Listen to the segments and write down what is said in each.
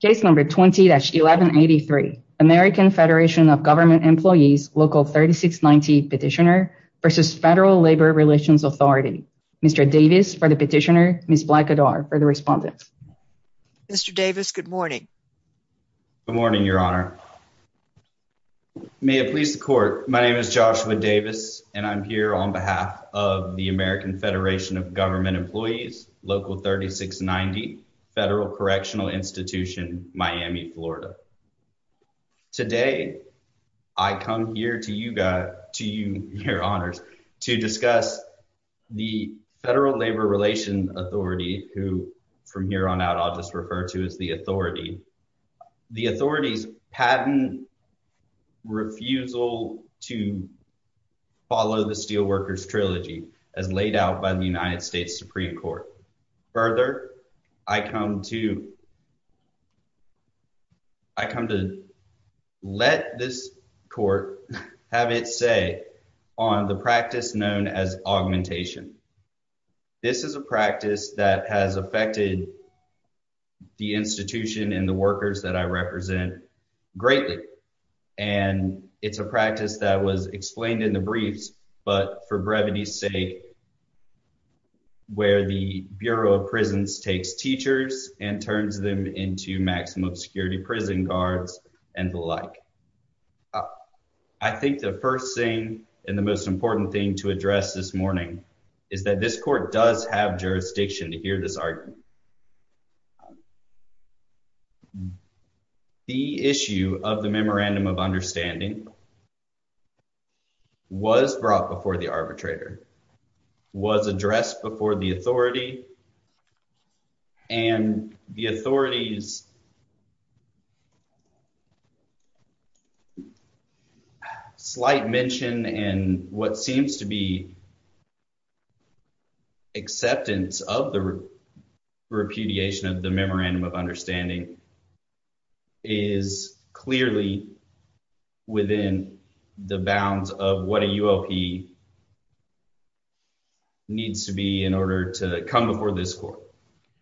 Case number 20-1183, American Federation of Government Employees, Local 3690 Petitioner v. Federal Labor Relations Authority. Mr. Davis for the petitioner, Ms. Blackadar for the respondent. Mr. Davis, good morning. Good morning, Your Honor. May it please the court. My name is Joshua Davis and I'm here on behalf of the American Federation of Government Employees, Local 3690 Petitioner v. Federal Labor Relations Authority, as laid out by the United States Supreme Court. Further, I come to you, Your Honor, to discuss the Federal Labor Relations Authority, who from here on out, I'll just refer to as the authority, the authorities patent refusal to follow the Steelworkers Trilogy as laid out by the United States Supreme Court. I come to let this court have its say on the practice known as augmentation. This is a practice that has affected the institution and the workers that I represent greatly. And it's a practice that was explained in the briefs, but for brevity's sake, where the Bureau of Prisons takes teachers and turns them into maximum security prison guards and the like. I think the first thing and the most important thing to address this morning is that this court does have jurisdiction to hear this argument. The issue of the memorandum of understanding was brought before the was addressed before the authority and the authority's slight mention and what seems to be acceptance of the repudiation of the memorandum of needs to be in order to come before this court.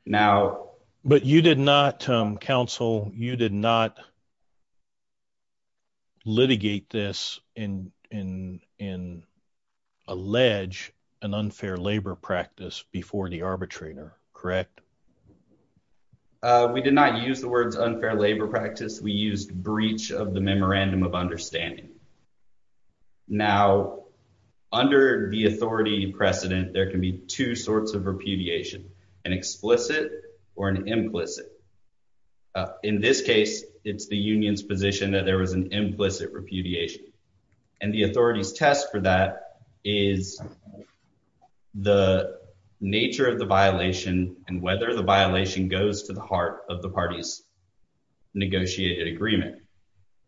Now, but you did not counsel, you did not litigate this in, in, in allege an unfair labor practice before the arbitrator, correct? We did not use the words unfair labor practice. We used breach of the memorandum of understanding. Now, under the authority precedent, there can be two sorts of repudiation, an explicit or an implicit. In this case, it's the union's position that there was an implicit repudiation. And the authority's test for that is the nature of the violation and whether the violation goes to the heart of the party's negotiated agreement.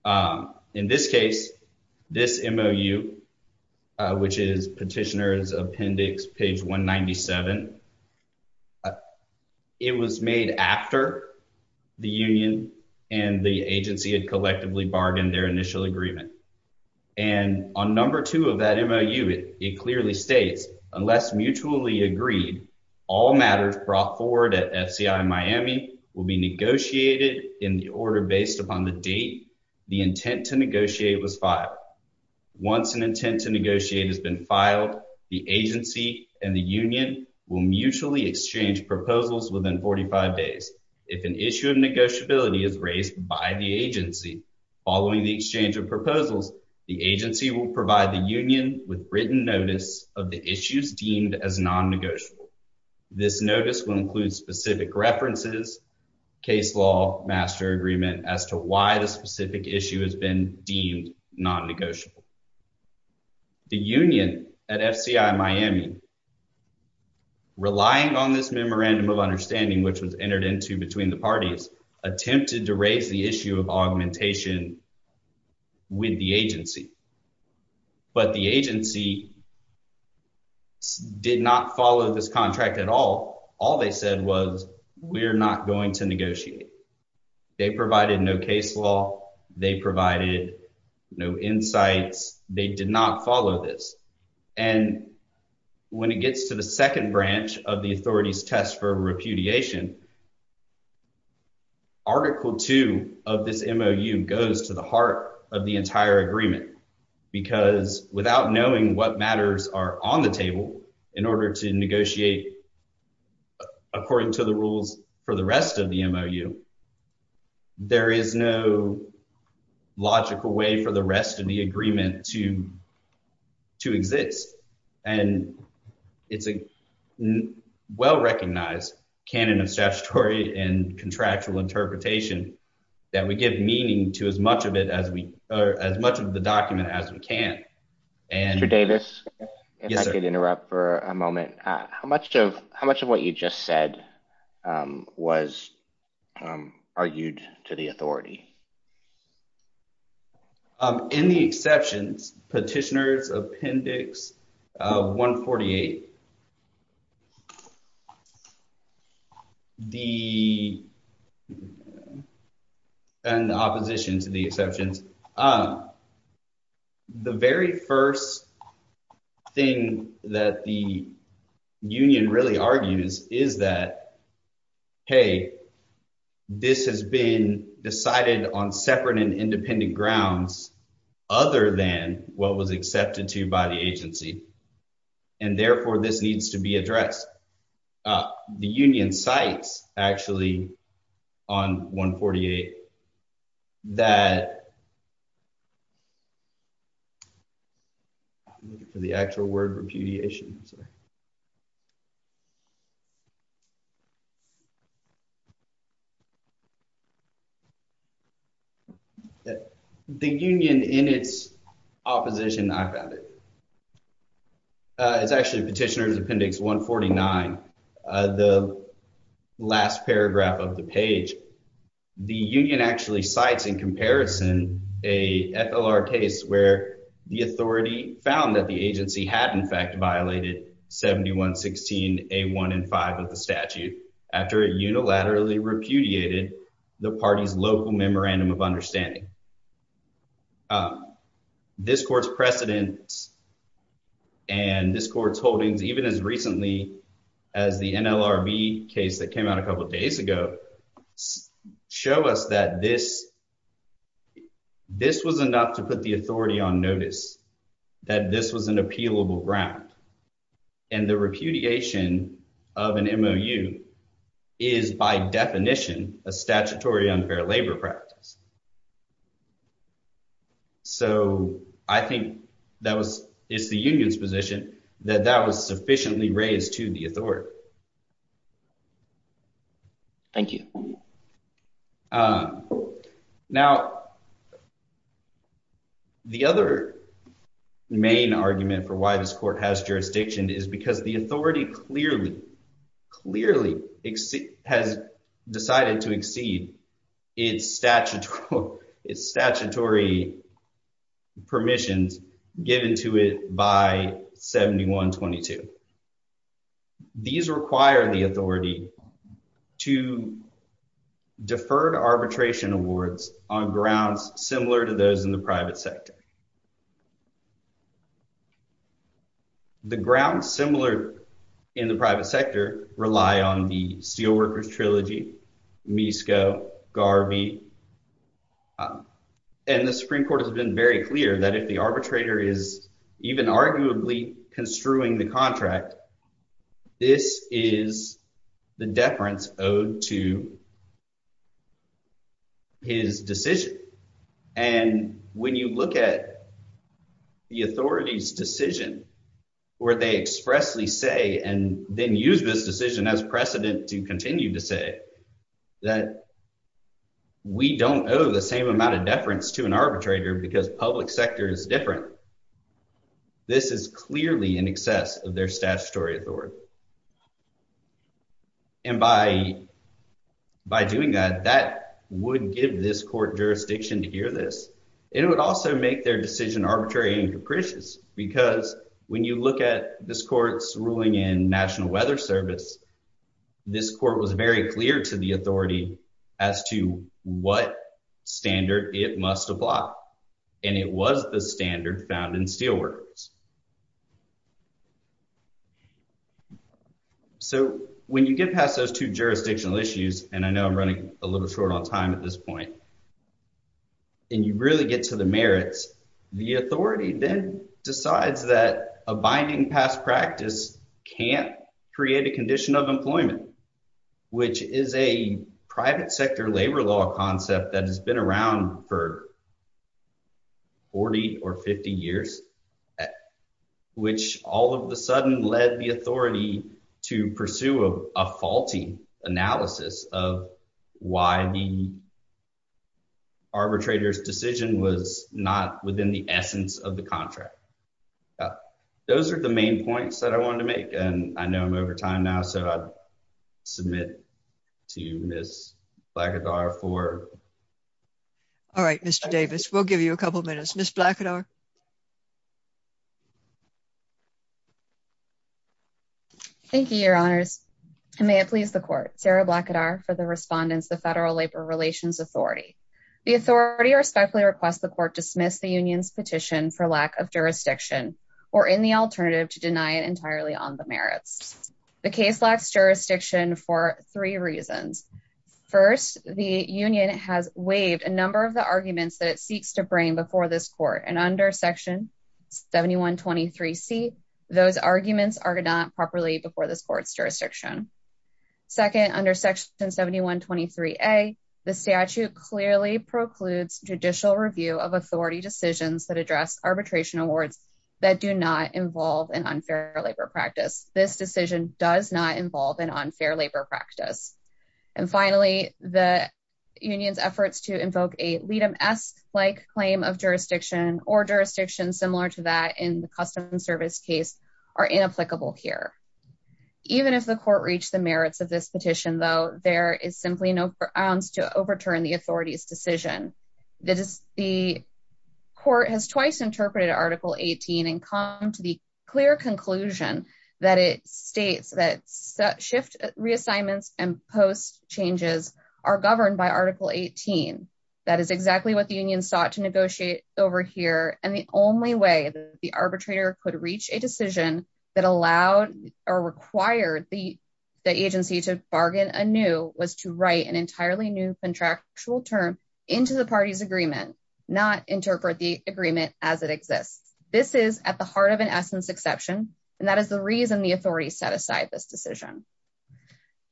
Um, in this case, this MOU, uh, which is petitioner's appendix, page 197, it was made after the union and the agency had collectively bargained their initial agreement. And on number two of that MOU, it clearly states unless mutually agreed, all matters brought forward at FCI Miami will be negotiated in the order based upon the date. The intent to negotiate was filed. Once an intent to negotiate has been filed, the agency and the union will mutually exchange proposals within 45 days. If an issue of negotiability is raised by the agency, following the exchange of proposals, the agency will provide the union with written notice of the issues deemed as non-negotiable. This notice will include specific references, case law, master agreement as to why the specific issue has been deemed non-negotiable. The union at FCI Miami, relying on this memorandum of understanding, which was entered into between the parties, attempted to raise the issue of augmentation with the agency. But the agency did not follow this contract at all. All they said was, we're not going to negotiate. They provided no case law. They provided no insights. They did not follow this. And when it gets to the second branch of the authorities test for repudiation, Article 2 of this MOU goes to the heart of the entire agreement. Because without knowing what matters are on the table in order to negotiate according to the rules for the rest of the MOU, there is no logical way for the rest of the agreement to exist. And it's a well-recognized canon of statutory and contractual interpretation that would give meaning to as much of the document as we can. Mr. Davis, if I could interrupt for a moment. How much of what you just said was argued to the authority? In the exceptions, Petitioner's Appendix 148, and the opposition to the exceptions, the very first thing that the union really argues is that, hey, this has been decided on separate and independent grounds other than what was accepted to by the agency. And therefore, this needs to be addressed. The union cites, actually, on 148, that... I'm looking for the actual word repudiation. The union in its opposition, I've added. It's actually Petitioner's Appendix 149, the last paragraph of the page. The union actually cites in comparison a FLR case where the authority found that the agency had, in fact, violated 7116A1 and 5 of the statute after it unilaterally repudiated the party's local memorandum of understanding. This court's precedents and this court's holdings, even as recently as the NLRB case that came out a couple of days ago, show us that this was enough to put the authority on notice, that this was an appealable ground. And the repudiation of an MOU is, by definition, a statutory unfair labor practice. So, I think that was, it's the union's position that that was sufficiently raised to the authority. Thank you. Now, the other main argument for why this court has jurisdiction is because the authority clearly, clearly has decided to exceed its statutory permissions given to it by 7122. These require the authority to defer arbitration awards on grounds similar to those in the private sector rely on the Steelworkers Trilogy, MISCO, Garvey. And the Supreme Court has been very clear that if the arbitrator is even arguably construing the contract, this is the deference owed to his decision. And when you look at the authority's decision where they expressly say, and then use this decision as precedent to continue to say, that we don't owe the same amount of deference to an arbitrator because public sector is different. This is clearly in excess of their statutory authority. And by doing that, that would give this court jurisdiction to hear this. It would also make their decision arbitrary and capricious, because when you look at this court's ruling in National Weather Service, this court was very clear to the authority as to what standard it must apply. And it was the standard found in Steelworkers. So, when you get past those two jurisdictional issues, and I know I'm running a little short on time at this point, and you really get to the merits, the authority then decides that a binding past practice can't create a condition of employment, which is a private sector labor law concept that has been around for 40 or 50 years, which all of a sudden led the authority to pursue a faulty analysis of why the arbitrator's decision was not within the essence of the contract. Those are the main points that I wanted to make, and I know I'm over time now, so I'd like to hand it to Ms. Blackadar for... All right, Mr. Davis, we'll give you a couple minutes. Ms. Blackadar. Thank you, Your Honors, and may it please the court. Sarah Blackadar for the respondents of the Federal Labor Relations Authority. The authority respectfully requests the court dismiss the union's petition for lack of jurisdiction or any alternative to deny it entirely on the merits. The case lacks jurisdiction for three reasons. First, the union has waived a number of the arguments that it seeks to bring before this court, and under section 7123C, those arguments are not properly before this court's jurisdiction. Second, under section 7123A, the statute clearly precludes judicial review of authority decisions that address arbitration awards that do not involve an unfair labor practice. This decision does not involve an unfair labor practice. And finally, the union's efforts to invoke a lead-em-esque-like claim of jurisdiction or jurisdictions similar to that in the Customs Service case are inapplicable here. Even if the court reached the merits of this petition, though, there is simply no grounds to overturn the authority's decision. The court has twice interpreted Article 18 and come to the clear conclusion that it states that shift reassignments and post changes are governed by Article 18. That is exactly what the union sought to negotiate over here, and the only way the arbitrator could reach a decision that allowed or required the agency to bargain anew was to write an entirely new contractual term into the party's agreement, not interpret the agreement as it exists. This is at the heart of an essence exception, and that is the reason the authority set aside this decision.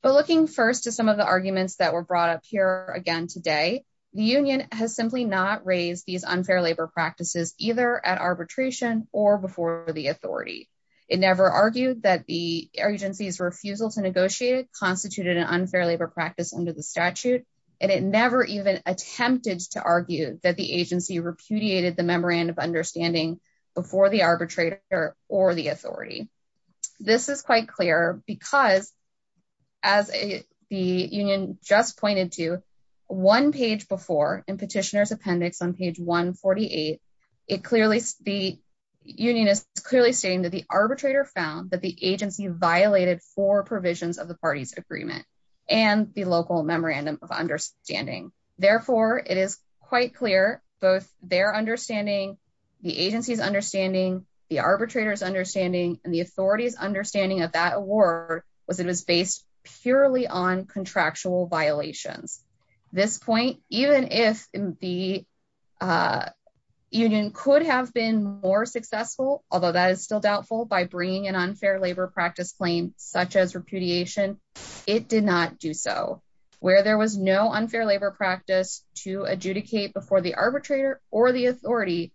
But looking first to some of the arguments that were brought up here again today, the union has simply not raised these unfair labor practices either at arbitration or before the authority. It never argued that the agency's refusal to negotiate constituted an unfair labor practice under the statute, and it never even attempted to argue that the agency repudiated the memorandum of understanding before the arbitrator or the authority. This is quite clear because, as the union just pointed to, one page before in petitioner's appendix on page 148, the union is clearly stating that the arbitrator found that the agency violated four provisions of the party's agreement and the local memorandum of understanding. Therefore, it is quite clear both their understanding, the agency's understanding, the arbitrator's understanding, and the authority's understanding of that award was it was based purely on contractual violations. This point, even if the union could have been more successful, although that is still doubtful, by bringing an unfair labor practice claim such as repudiation, it did not do so. Where there was no unfair labor practice to adjudicate before the arbitrator or the authority,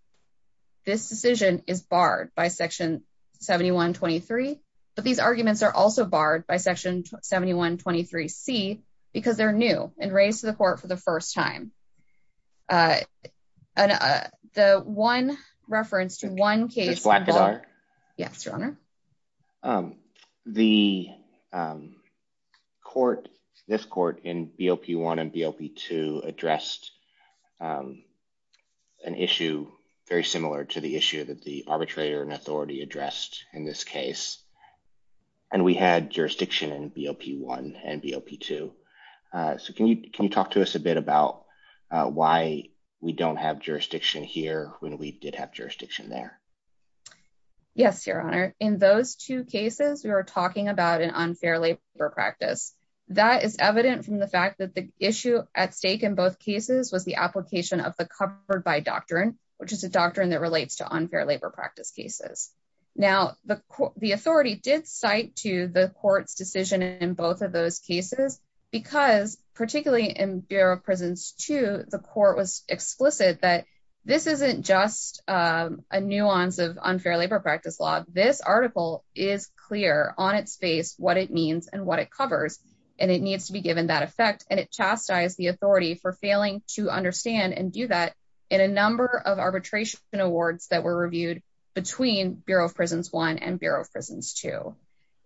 this decision is barred by section 7123, but these arguments are also barred by section 7123c because they're new and raised to the court for the first time. The one reference to one case... Yes, your honor. The court, this court in BOP1 and BOP2 addressed an issue very similar to the issue that the arbitrator and authority addressed in this case, and we had jurisdiction in BOP1 and BOP2. So, can you talk to us a bit about why we don't have jurisdiction here when we did have jurisdiction there? Yes, your honor. In those two cases, we were talking about an unfair labor practice. That is evident from the fact that the issue at stake in both cases was the application of the covered by doctrine, which is a doctrine that relates to unfair labor practice cases. Now, the authority did cite to the court's decision in both of those cases because, particularly in BOP2, the court was explicit that this isn't just a nuance of unfair labor practice law. This article is clear on its face what it means and what it covers, and it needs to be given that effect, and it chastised the authority for failing to understand and do that in a number of arbitration awards that were reviewed between BOP1 and BOP2.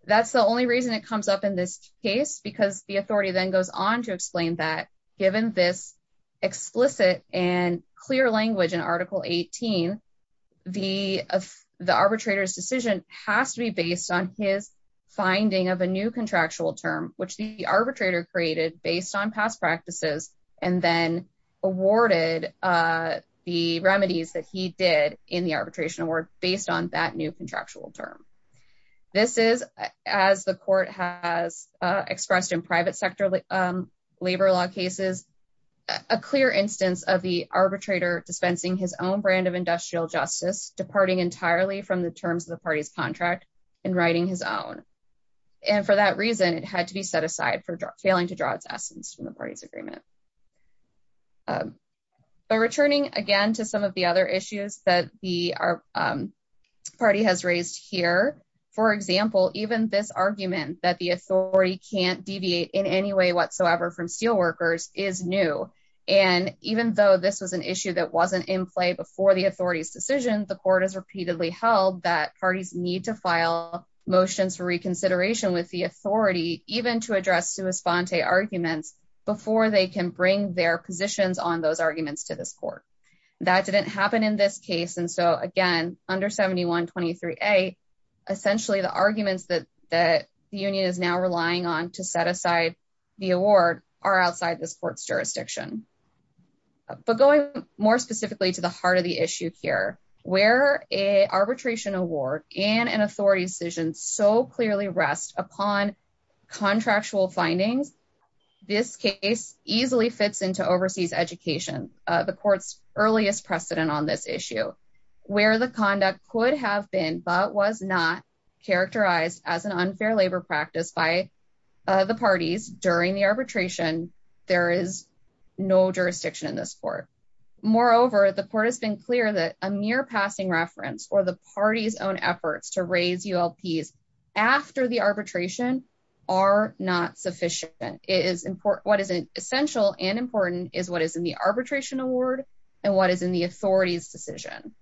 That's the only reason it comes up in this case because the authority then goes on to explain that, given this explicit and clear language in Article 18, the arbitrator's decision has to be based on his finding of a new contractual term, which the arbitrator created based on past practices, and then awarded the remedies that he did in the arbitration award based on that new contractual term. The court has expressed in private sector labor law cases a clear instance of the arbitrator dispensing his own brand of industrial justice, departing entirely from the terms of the party's contract, and writing his own. And for that reason, it had to be set aside for failing to draw its essence from the party's agreement. But returning again to some of the other issues that our party has raised here, for example, even this argument that the authority can't deviate in any way whatsoever from steelworkers is new. And even though this was an issue that wasn't in play before the authority's decision, the court has repeatedly held that parties need to file motions for reconsideration with the authority even to address sua sponte arguments before they can bring their case. And so again, under 7123. A, essentially the arguments that that the union is now relying on to set aside, the award are outside this court's jurisdiction. But going more specifically to the heart of the issue here, where a arbitration award and an authority decision so clearly rest upon contractual findings. This case easily fits into overseas education, the court's earliest precedent on this issue, where the conduct could have been but was not characterized as an unfair labor practice by the parties during the arbitration. There is no jurisdiction in this court. Moreover, the court has been clear that a mere passing reference or the party's own efforts to raise ULP after the arbitration are not sufficient is important. What is essential and important is what is in the arbitration award, and what is in the authority's decision.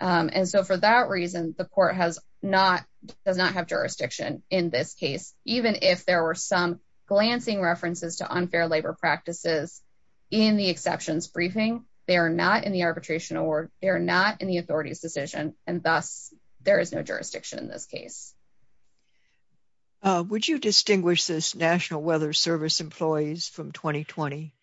And so for that reason, the court has not does not have jurisdiction in this case, even if there were some glancing references to unfair labor practices. In the exceptions briefing, they are not in the arbitration or they're not in the authority's decision. And thus, there is no jurisdiction in this case. Would you distinguish this National Weather Service employees from 2020?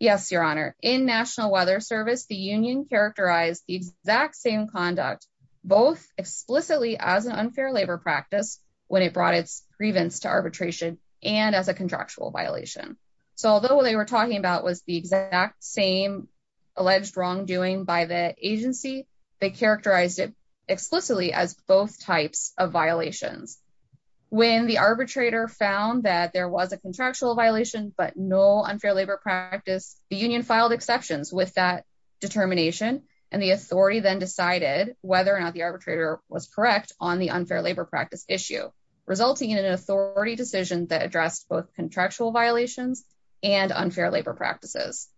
Yes, Your Honor, in National Weather Service, the union characterized the exact same conduct, both explicitly as an unfair labor practice, when it brought its grievance to arbitration, and as a contractual violation. So although they were talking about was the exact same alleged wrongdoing by the agency, they characterized it explicitly as both types of violations. When the arbitrator found that there was a contractual violation, but no unfair labor practice, the union filed exceptions with that determination. And the authority then decided whether or not the arbitrator was correct on the unfair labor practice issue, resulting in an authority decision that addressed both contractual violations and unfair labor practices.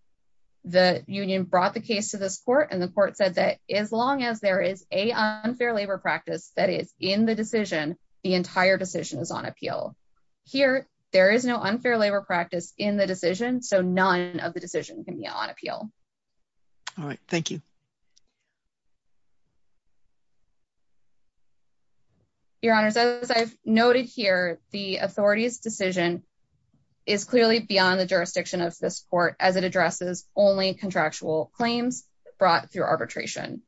The union brought the case to this court and the court said that as long as there is a unfair labor practice that is in the decision, the entire decision is on appeal. Here, there is no unfair labor practice in the decision, so none of the decision can be on appeal. All right, thank you. Your Honor, as I've noted here, the authority's decision is clearly beyond the jurisdiction of this court as it addresses only contractual claims brought through arbitration.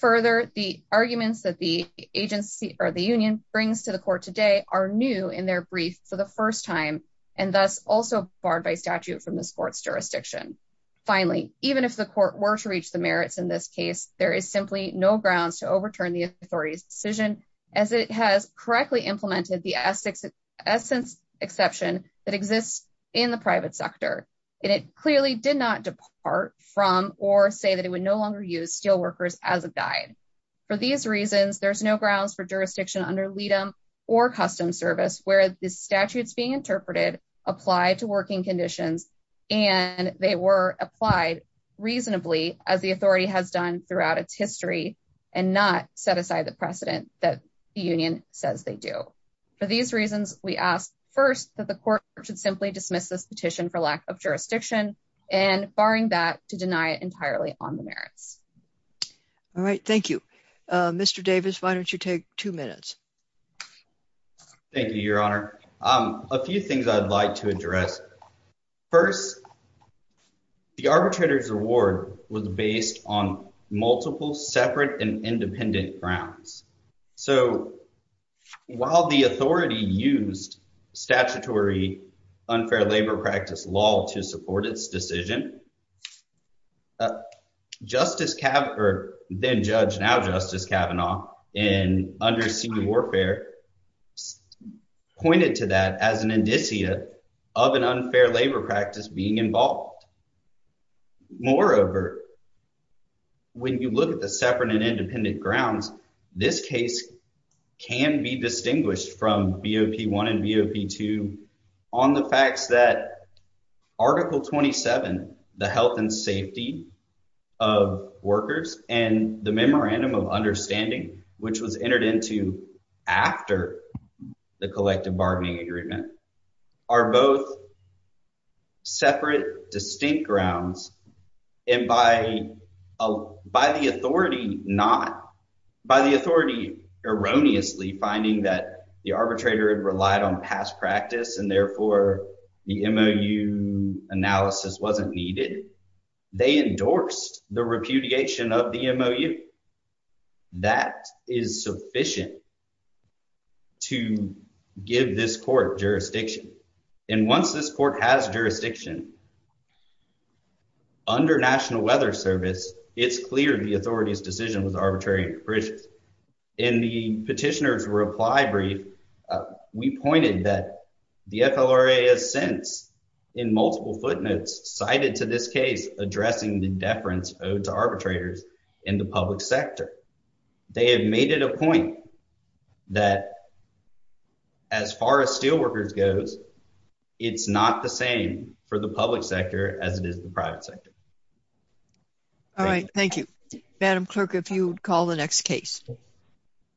Further, the arguments that the agency or the union brings to the court today are new in their brief for the statute from this court's jurisdiction. Finally, even if the court were to reach the merits in this case, there is simply no grounds to overturn the authority's decision as it has correctly implemented the essence exception that exists in the private sector. And it clearly did not depart from or say that it would no longer use steelworkers as a guide. For these reasons, there's no grounds for jurisdiction under LEADM or custom service where the statutes being conditions and they were applied reasonably as the authority has done throughout its history and not set aside the precedent that the union says they do. For these reasons, we ask first that the court should simply dismiss this petition for lack of jurisdiction and barring that to deny it entirely on the merits. All right, thank you. Mr. Davis, why don't you take two minutes? Thank you, Your Honor. A few things I'd like to address. First, the arbitrator's reward was based on multiple separate and independent grounds. So while the authority used statutory unfair labor practice law to support its decision, Justice Kavanaugh, or then judge, Justice D'Orfeo, pointed to that as an indicia of an unfair labor practice being involved. Moreover, when you look at the separate and independent grounds, this case can be distinguished from BOP 1 and BOP 2 on the facts that Article 27, the health and safety of workers and the after the collective bargaining agreement, are both separate distinct grounds. And by the authority erroneously finding that the arbitrator had relied on past practice and therefore the MOU analysis wasn't needed, they endorsed the repudiation of the MOU. That is sufficient to give this court jurisdiction. And once this court has jurisdiction, under National Weather Service, it's clear the authority's decision was arbitrary and capricious. In the petitioner's reply brief, we pointed that the FLRA has since, in multiple footnotes, cited to this case addressing the deference owed to arbitrators in the public sector. They have made it a point that as far as steelworkers goes, it's not the same for the public sector as it is the private sector. All right, thank you. Madam Clerk, if you would call the next case.